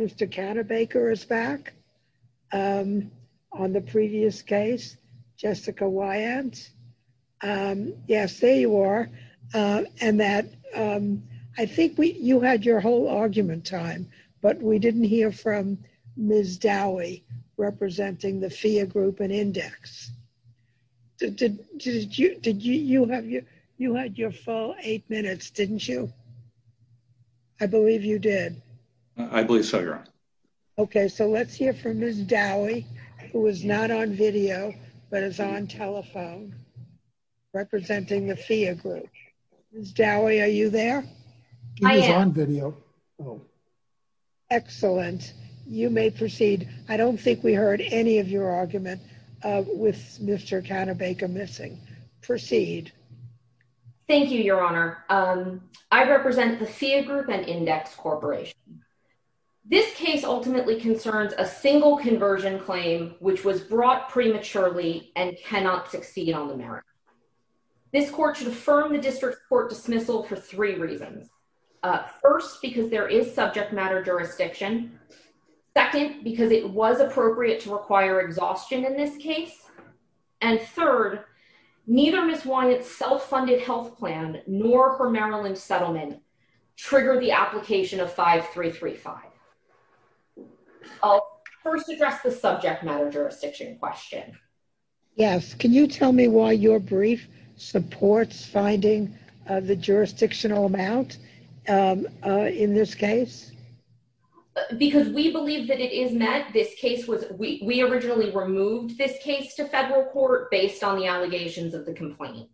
Mr. Cannebaker is back on the previous case. Jessica Weyant, yes, there you are. And that, I think you had your whole argument time, but we didn't hear from Ms. Dowie representing the Phia Group and Index. Did you, you had your full eight minutes, didn't you? I believe you did. I believe so, Your Honor. Okay, so let's hear from Ms. Dowie, who is not on video, but is on telephone, representing the Phia Group. Ms. Dowie, are you there? I am. She is on video. Oh. Excellent. You may proceed. I don't think we heard any of your argument with Mr. Cannebaker missing. Proceed. Thank you, Your Honor. I represent the Phia Group and Index Corporation. This case ultimately concerns a single conversion claim, which was brought prematurely and cannot succeed on the merits. This court should affirm the district court dismissal for three reasons. First, because there is subject matter jurisdiction. Second, because it was appropriate to require exhaustion in this case. And third, neither Ms. Weyant's self-funded health plan nor her Maryland settlement trigger the application of 5335. I'll first address the subject matter jurisdiction question. Yes, can you tell me why your brief supports finding the jurisdictional amount in this case? Because we believe that it is met. This case was, we originally removed this case to federal court based on the allegations of the complaint.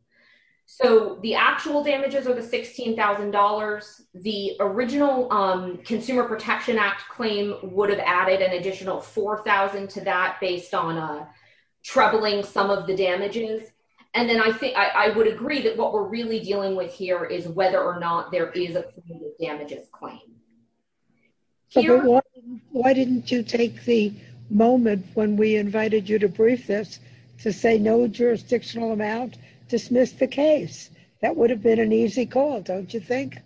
So the actual damages are the $16,000. The original Consumer Protection Act claim would have added an additional 4,000 to that based on troubling some of the damages. And then I think I would agree that what we're really dealing with here is whether or not there is a completed damages claim. Why didn't you take the moment when we invited you to brief this to say no jurisdictional amount, dismiss the case? That would have been an easy call, don't you think?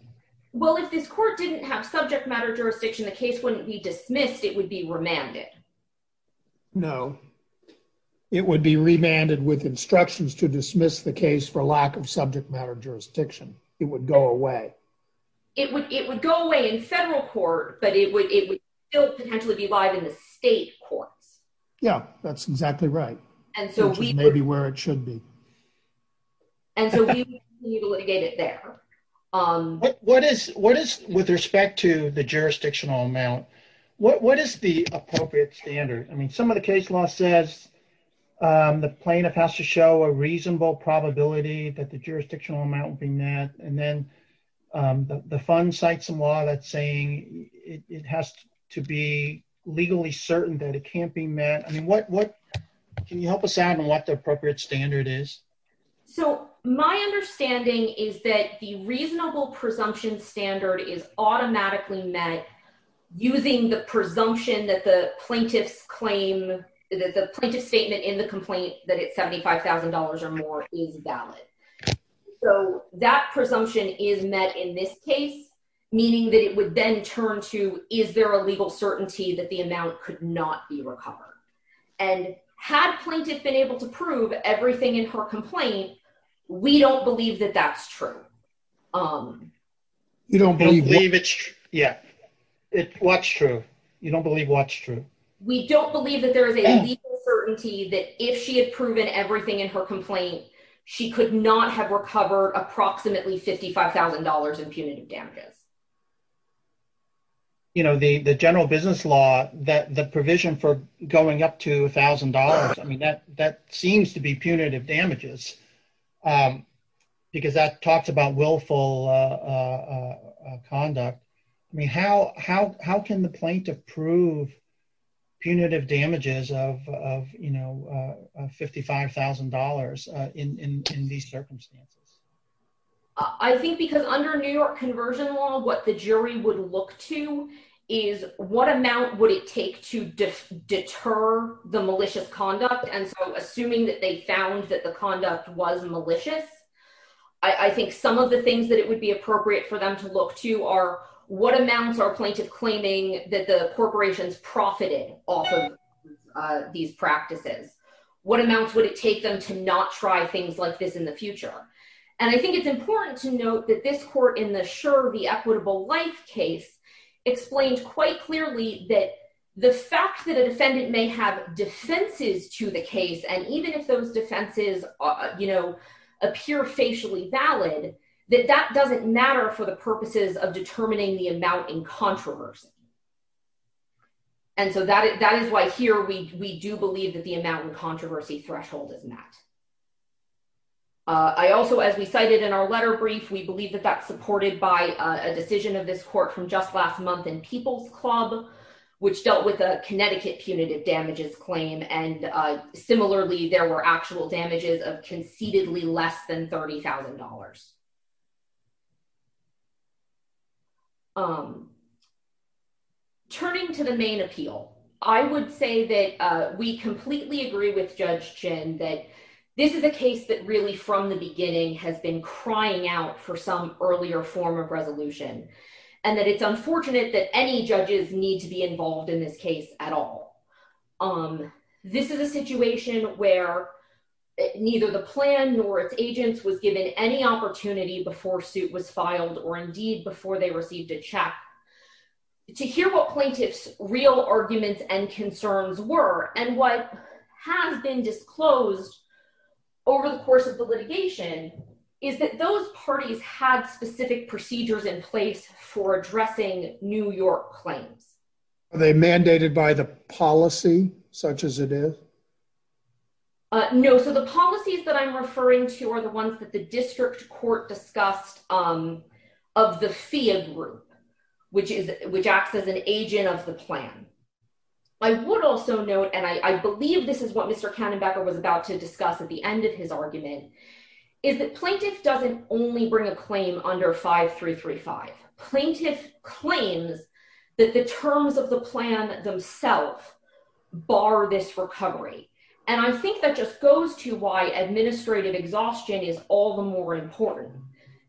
Well, if this court didn't have subject matter jurisdiction, the case wouldn't be dismissed, it would be remanded. No, it would be remanded with instructions to dismiss the case for lack of subject matter jurisdiction. It would go away. It would go away in federal court, but it would still potentially be live in the state courts. Yeah, that's exactly right. Which is maybe where it should be. And so we need to litigate it there. With respect to the jurisdictional amount, what is the appropriate standard? I mean, some of the case law says the plaintiff has to show a reasonable probability that the jurisdictional amount will be met. And then the fund cites some law that's saying it has to be legally certain that it can't be met. I mean, can you help us out on what the appropriate standard is? So my understanding is that the reasonable presumption standard is automatically met using the presumption that the plaintiff's claim, that the plaintiff's statement in the complaint that it's $75,000 or more is valid. So that presumption is met in this case, meaning that it would then turn to, is there a legal certainty that the amount could not be recovered? And had plaintiff been able to prove everything in her complaint, we don't believe that that's true. You don't believe it's true? Yeah, what's true? You don't believe what's true? We don't believe that there is a legal certainty that if she had proven everything in her complaint, she could not have recovered approximately $55,000 in punitive damages. You know, the general business law, the provision for going up to $1,000, I mean, that seems to be punitive damages because that talks about willful conduct. I mean, how can the plaintiff prove punitive damages of $55,000 in these circumstances? I think because under New York conversion law, what the jury would look to is what amount would it take to deter the malicious conduct? And so assuming that they found that the conduct was malicious, I think some of the things that it would be appropriate for them to look to are what amounts are plaintiff claiming that the corporations profited off of these practices? What amounts would it take them to not try things like this in the future? And I think it's important to note that this court in the Sure, the Equitable Life case explained quite clearly that the fact that a defendant may have defenses to the case, and even if those defenses appear facially valid, that that doesn't matter for the purposes of determining the amount in controversy. And so that is why here we do believe that the amount in controversy threshold is met. I also, as we cited in our letter brief, we believe that that's supported by a decision of this court from just last month in People's Club, which dealt with a Connecticut punitive damages claim. And similarly, there were actual damages of concededly less than $30,000. Turning to the main appeal, I would say that we completely agree with Judge Chin that this is a case that really from the beginning has been crying out for some earlier form of resolution, and that it's unfortunate that any judges need to be involved in this case at all. This is a situation where neither the plan nor its agents was given any opportunity before suit was filed, or indeed before they received a check. To hear what plaintiff's real arguments and concerns were, and what has been disclosed over the course of the litigation, is that those parties had specific procedures in place for addressing New York claims. Are they mandated by the policy such as it is? No, so the policies that I'm referring to are the ones that the district court discussed of the FIA group, which acts as an agent of the plan. I would also note, and I believe this is what Mr. Kannenbecker was about to discuss at the end of his argument, is that plaintiff doesn't only bring a claim under 5335. Plaintiff claims that the terms of the plan themselves bar this recovery. And I think that just goes to why administrative exhaustion is all the more important,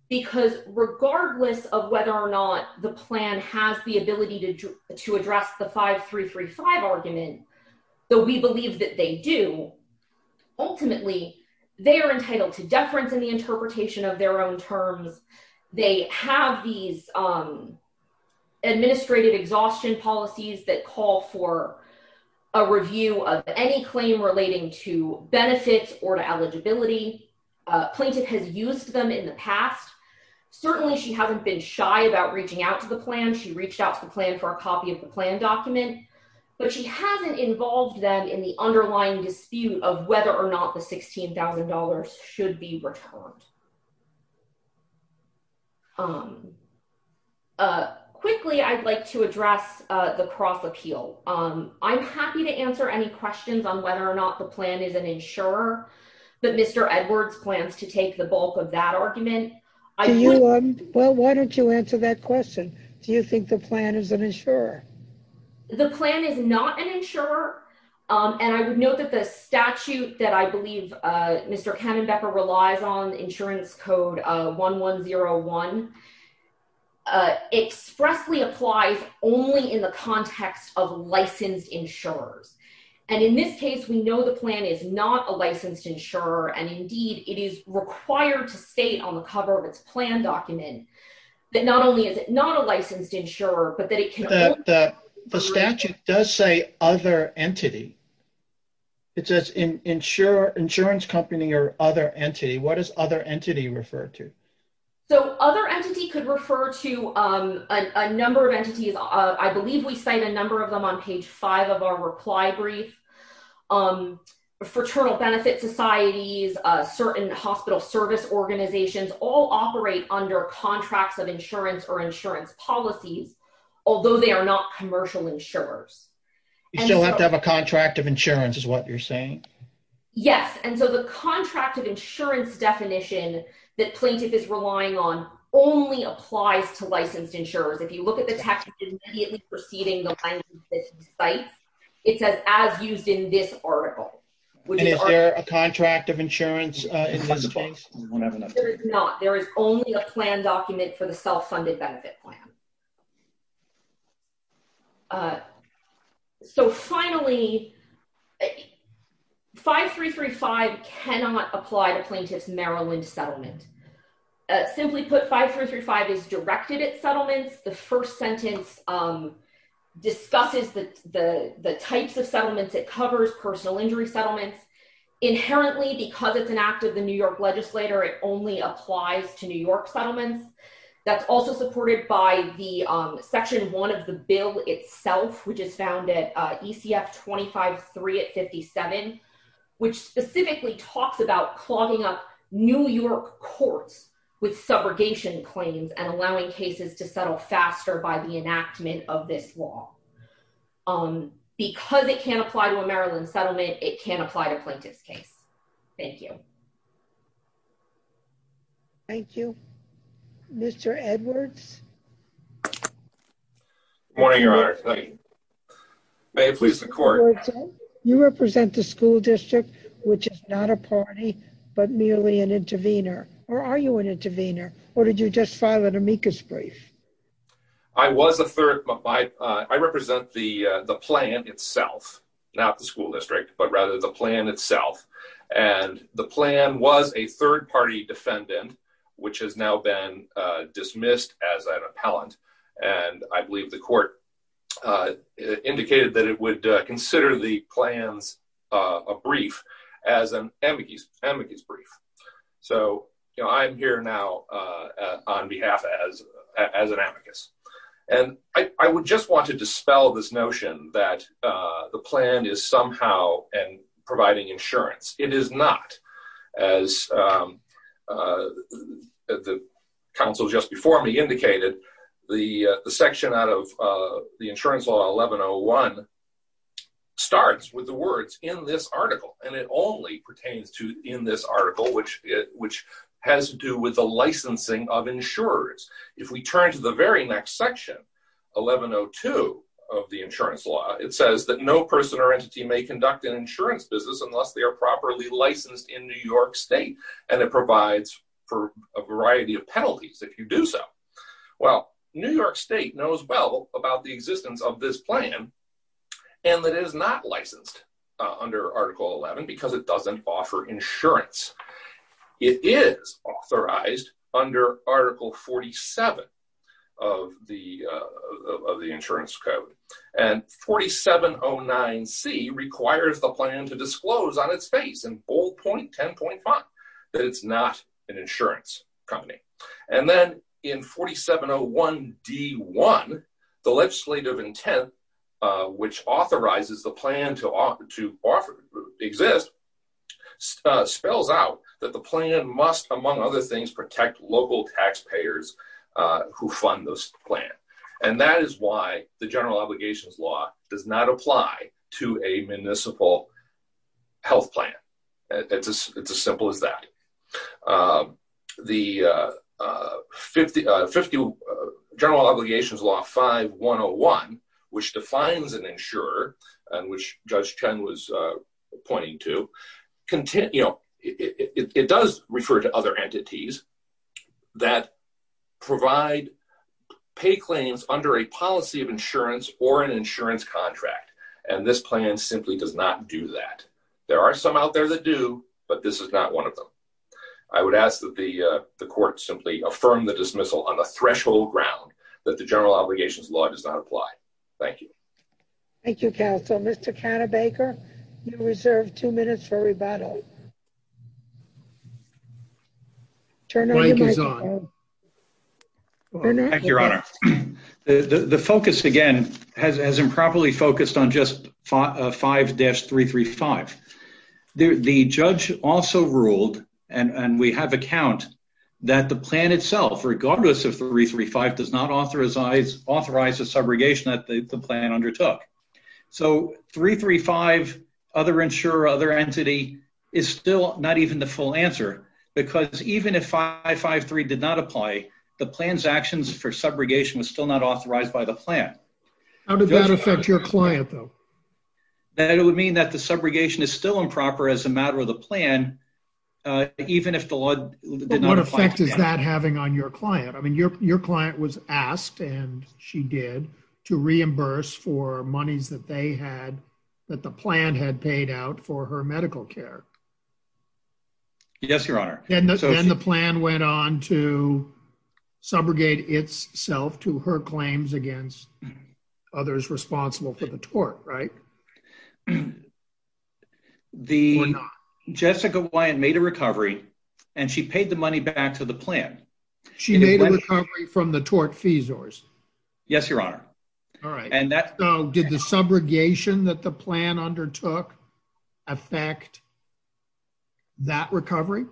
because regardless of whether or not the plan has the ability to address the 5335 argument, though we believe that they do, ultimately, they are entitled to deference in the interpretation of their own terms. They have these administrative exhaustion policies that call for a review of any claim relating to benefits or to eligibility. Plaintiff has used them in the past. Certainly, she hasn't been shy about reaching out to the plan. She reached out to the plan for a copy of the plan document, but she hasn't involved them in the underlying dispute of whether or not the $16,000 should be returned. Quickly, I'd like to address the cross-appeal. I'm happy to answer any questions on whether or not the plan is an insurer, but Mr. Edwards plans to take the bulk of that argument. Well, why don't you answer that question? Do you think the plan is an insurer? The plan is not an insurer, and I would note that the statute that I believe Mr. Kammenbecker relies on, Insurance Code 1101, expressly applies only in the context of licensed insurers. And in this case, we know the plan is not a licensed insurer, and indeed, it is required to state on the cover of its plan document that not only is it not a licensed insurer, but that it can only- The statute does say other entity. It says insurance company or other entity. What does other entity refer to? So other entity could refer to a number of entities. I believe we cite a number of them on page five of our reply brief. Fraternal benefit societies, certain hospital service organizations, all operate under contracts of insurance or insurance policies, although they are not commercial insurers. You still have to have a contract of insurance is what you're saying? Yes, and so the contract of insurance definition that plaintiff is relying on only applies to licensed insurers. If you look at the text, it's immediately preceding the language that he cites. It says, as used in this article, which is article- And is there a contract of insurance in this case? We don't have another- There is not. A document for the self-funded benefit plan. So finally, 5335 cannot apply to plaintiff's Maryland settlement. Simply put, 5335 is directed at settlements. The first sentence discusses the types of settlements it covers, personal injury settlements. Inherently, because it's an act of the New York legislator, it only applies to New York settlements. That's also supported by section one of the bill itself, which is found at ECF 25.3 at 57, which specifically talks about clogging up New York courts with subrogation claims and allowing cases to settle faster by the enactment of this law. Because it can't apply to a Maryland settlement, it can't apply to plaintiff's case. Thank you. Thank you. Mr. Edwards. Good morning, Your Honor. May it please the court. You represent the school district, which is not a party, but merely an intervener. Or are you an intervener? Or did you just file an amicus brief? I was a third... I represent the plan itself, not the school district, but rather the plan itself. And the plan was a third-party defendant, which has now been dismissed as an appellant. And I believe the court indicated that it would consider the plan's brief as an amicus brief. So I'm here now on behalf as an amicus. And I would just want to dispel this notion that the plan is somehow providing insurance. It is not. As the counsel just before me indicated, the section out of the Insurance Law 1101 starts with the words in this article. And it only pertains to in this article, which has to do with the licensing of insurers. If we turn to the very next section, 1102 of the Insurance Law, it says that no person or entity may conduct an insurance business unless they are properly licensed in New York State. And it provides for a variety of penalties if you do so. Well, New York State knows well about the existence of this plan, and that it is not licensed under Article 11 because it doesn't offer insurance. It is authorized under Article 47 of the Insurance Code. And 4709C requires the plan to disclose on its face in bold point 10.5, that it's not an insurance company. And then in 4701D1, the legislative intent, which authorizes the plan to exist, spells out that the plan must, among other things, protect local taxpayers who fund this plan. And that is why the General Obligations Law does not apply to a municipal health plan. It's as simple as that. The General Obligations Law 5101, which defines an insurer, and which Judge Chen was pointing to, you know, it does refer to other entities that provide pay claims under a policy of insurance or an insurance contract. And this plan simply does not do that. There are some out there that do, but this is not one of them. I would ask that the court simply affirm the dismissal on the threshold ground that the General Obligations Law does not apply. Thank you. Thank you, counsel. Mr. Cannebaker, you're reserved two minutes for rebuttal. Turn on your microphone. Thank you, Your Honor. The focus, again, has improperly focused on just 5-335. The judge also ruled, and we have a count, that the plan itself, regardless of 335, does not authorize the subrogation that the plan undertook. So 335, other insurer, other entity, is still not even the full answer, because even if 553 did not apply, the plan's actions for subrogation was still not authorized by the plan. How did that affect your client, though? That it would mean that the subrogation is still improper as a matter of the plan, even if the law did not apply. What effect is that having on your client? I mean, your client was asked, and she did, to reimburse for monies that they had, that the plan had paid out for her medical care. Yes, Your Honor. Then the plan went on to subrogate itself to her claims against others responsible for the tort, right? The- Or not. Jessica Wyant made a recovery, and she paid the money back to the plan. She made a recovery from the tort fees, or is it? Yes, Your Honor. All right, so did the subrogation that the plan undertook affect that recovery,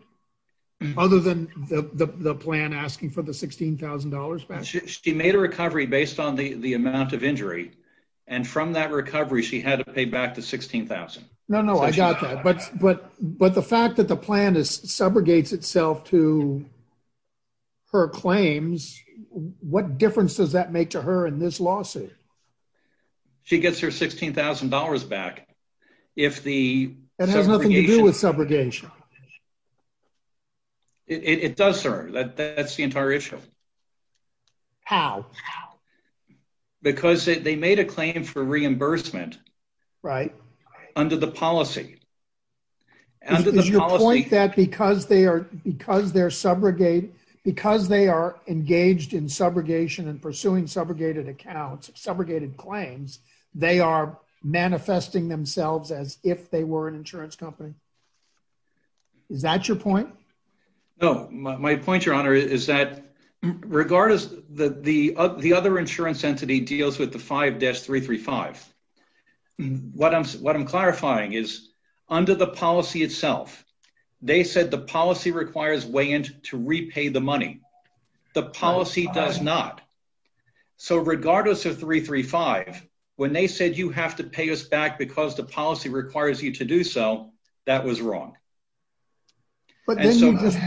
other than the plan asking for the $16,000 back? She made a recovery based on the amount of injury, and from that recovery, she had to pay back the $16,000. No, no, I got that, but the fact that the plan subrogates itself to her claims, what difference does that make to her in this lawsuit? She gets her $16,000 back if the subrogation- That has nothing to do with subrogation. It does, sir, that's the entire issue. How? How? Because they made a claim for reimbursement- Right. Under the policy. Under the policy- Is your point that because they're subrogated, because they are engaged in subrogation and pursuing subrogated accounts, subrogated claims, they are manifesting themselves as if they were an insurance company? Is that your point? No, my point, Your Honor, is that regardless, the other insurance entity deals with the 5-335. What I'm clarifying is, under the policy itself, they said the policy requires weigh-in to repay the money. The policy does not. So regardless of 335, when they said, you have to pay us back because the policy requires you to do so, that was wrong. But then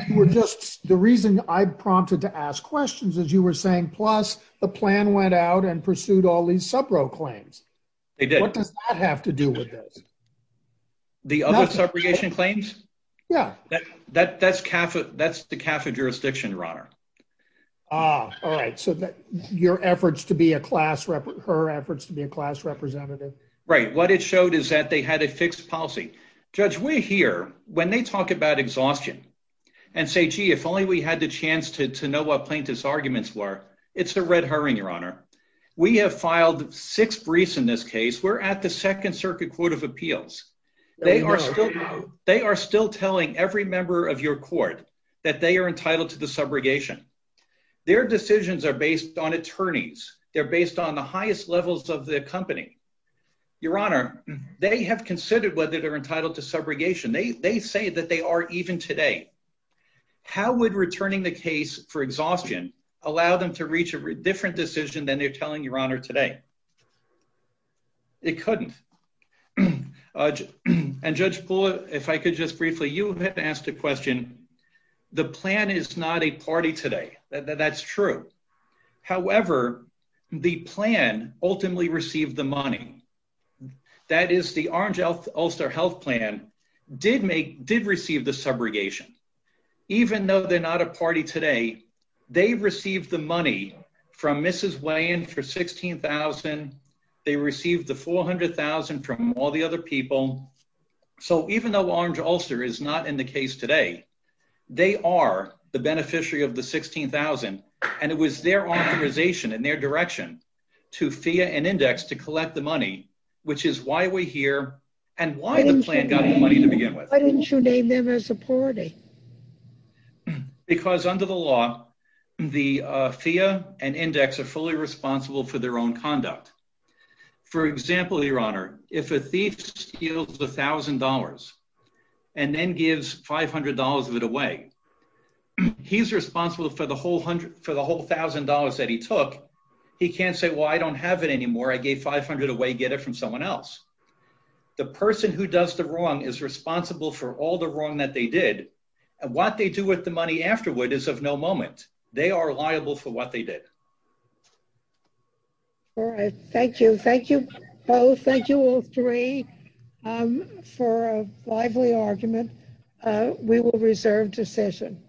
you were just, the reason I prompted to ask questions is you were saying, plus the plan went out and pursued all these subrogate claims. They did. What does that have to do with this? The other subrogation claims? Yeah. That's the CAFA jurisdiction, Your Honor. All right, so your efforts to be a class, her efforts to be a class representative? Right, what it showed is that they had a fixed policy. Judge, we're here, when they talk about exhaustion and say, gee, if only we had the chance to know what plaintiff's arguments were, it's a red herring, Your Honor. We have filed six briefs in this case. We're at the Second Circuit Court of Appeals. They are still telling every member of your court that they are entitled to the subrogation. Their decisions are based on attorneys. They're based on the highest levels of the company. Your Honor, they have considered whether they're entitled to subrogation. They say that they are even today. How would returning the case for exhaustion allow them to reach a different decision than they're telling Your Honor today? It couldn't. And Judge Poole, if I could just briefly, you have asked a question. The plan is not a party today. That's true. However, the plan ultimately received the money. That is, the Orange Ulster Health Plan did receive the subrogation. Even though they're not a party today, they received the money from Mrs. Weyand for $16,000. They received the $400,000 from all the other people. So even though Orange Ulster is not in the case today, they are the beneficiary of the $16,000, and it was their authorization and their direction to FEA and Index to collect the money, which is why we're here and why the plan got the money to begin with. Why didn't you name them as a party? Because under the law, the FEA and Index are fully responsible for their own conduct. For example, Your Honor, if a thief steals $1,000 and then gives $500 of it away, he's responsible for the whole $1,000 that he took. He can't say, well, I don't have it anymore. I gave 500 away, get it from someone else. The person who does the wrong is responsible for all the wrong that they did. And what they do with the money afterward is of no moment. They are liable for what they did. All right, thank you. Thank you both. Thank you all three for a lively argument. We will reserve decision.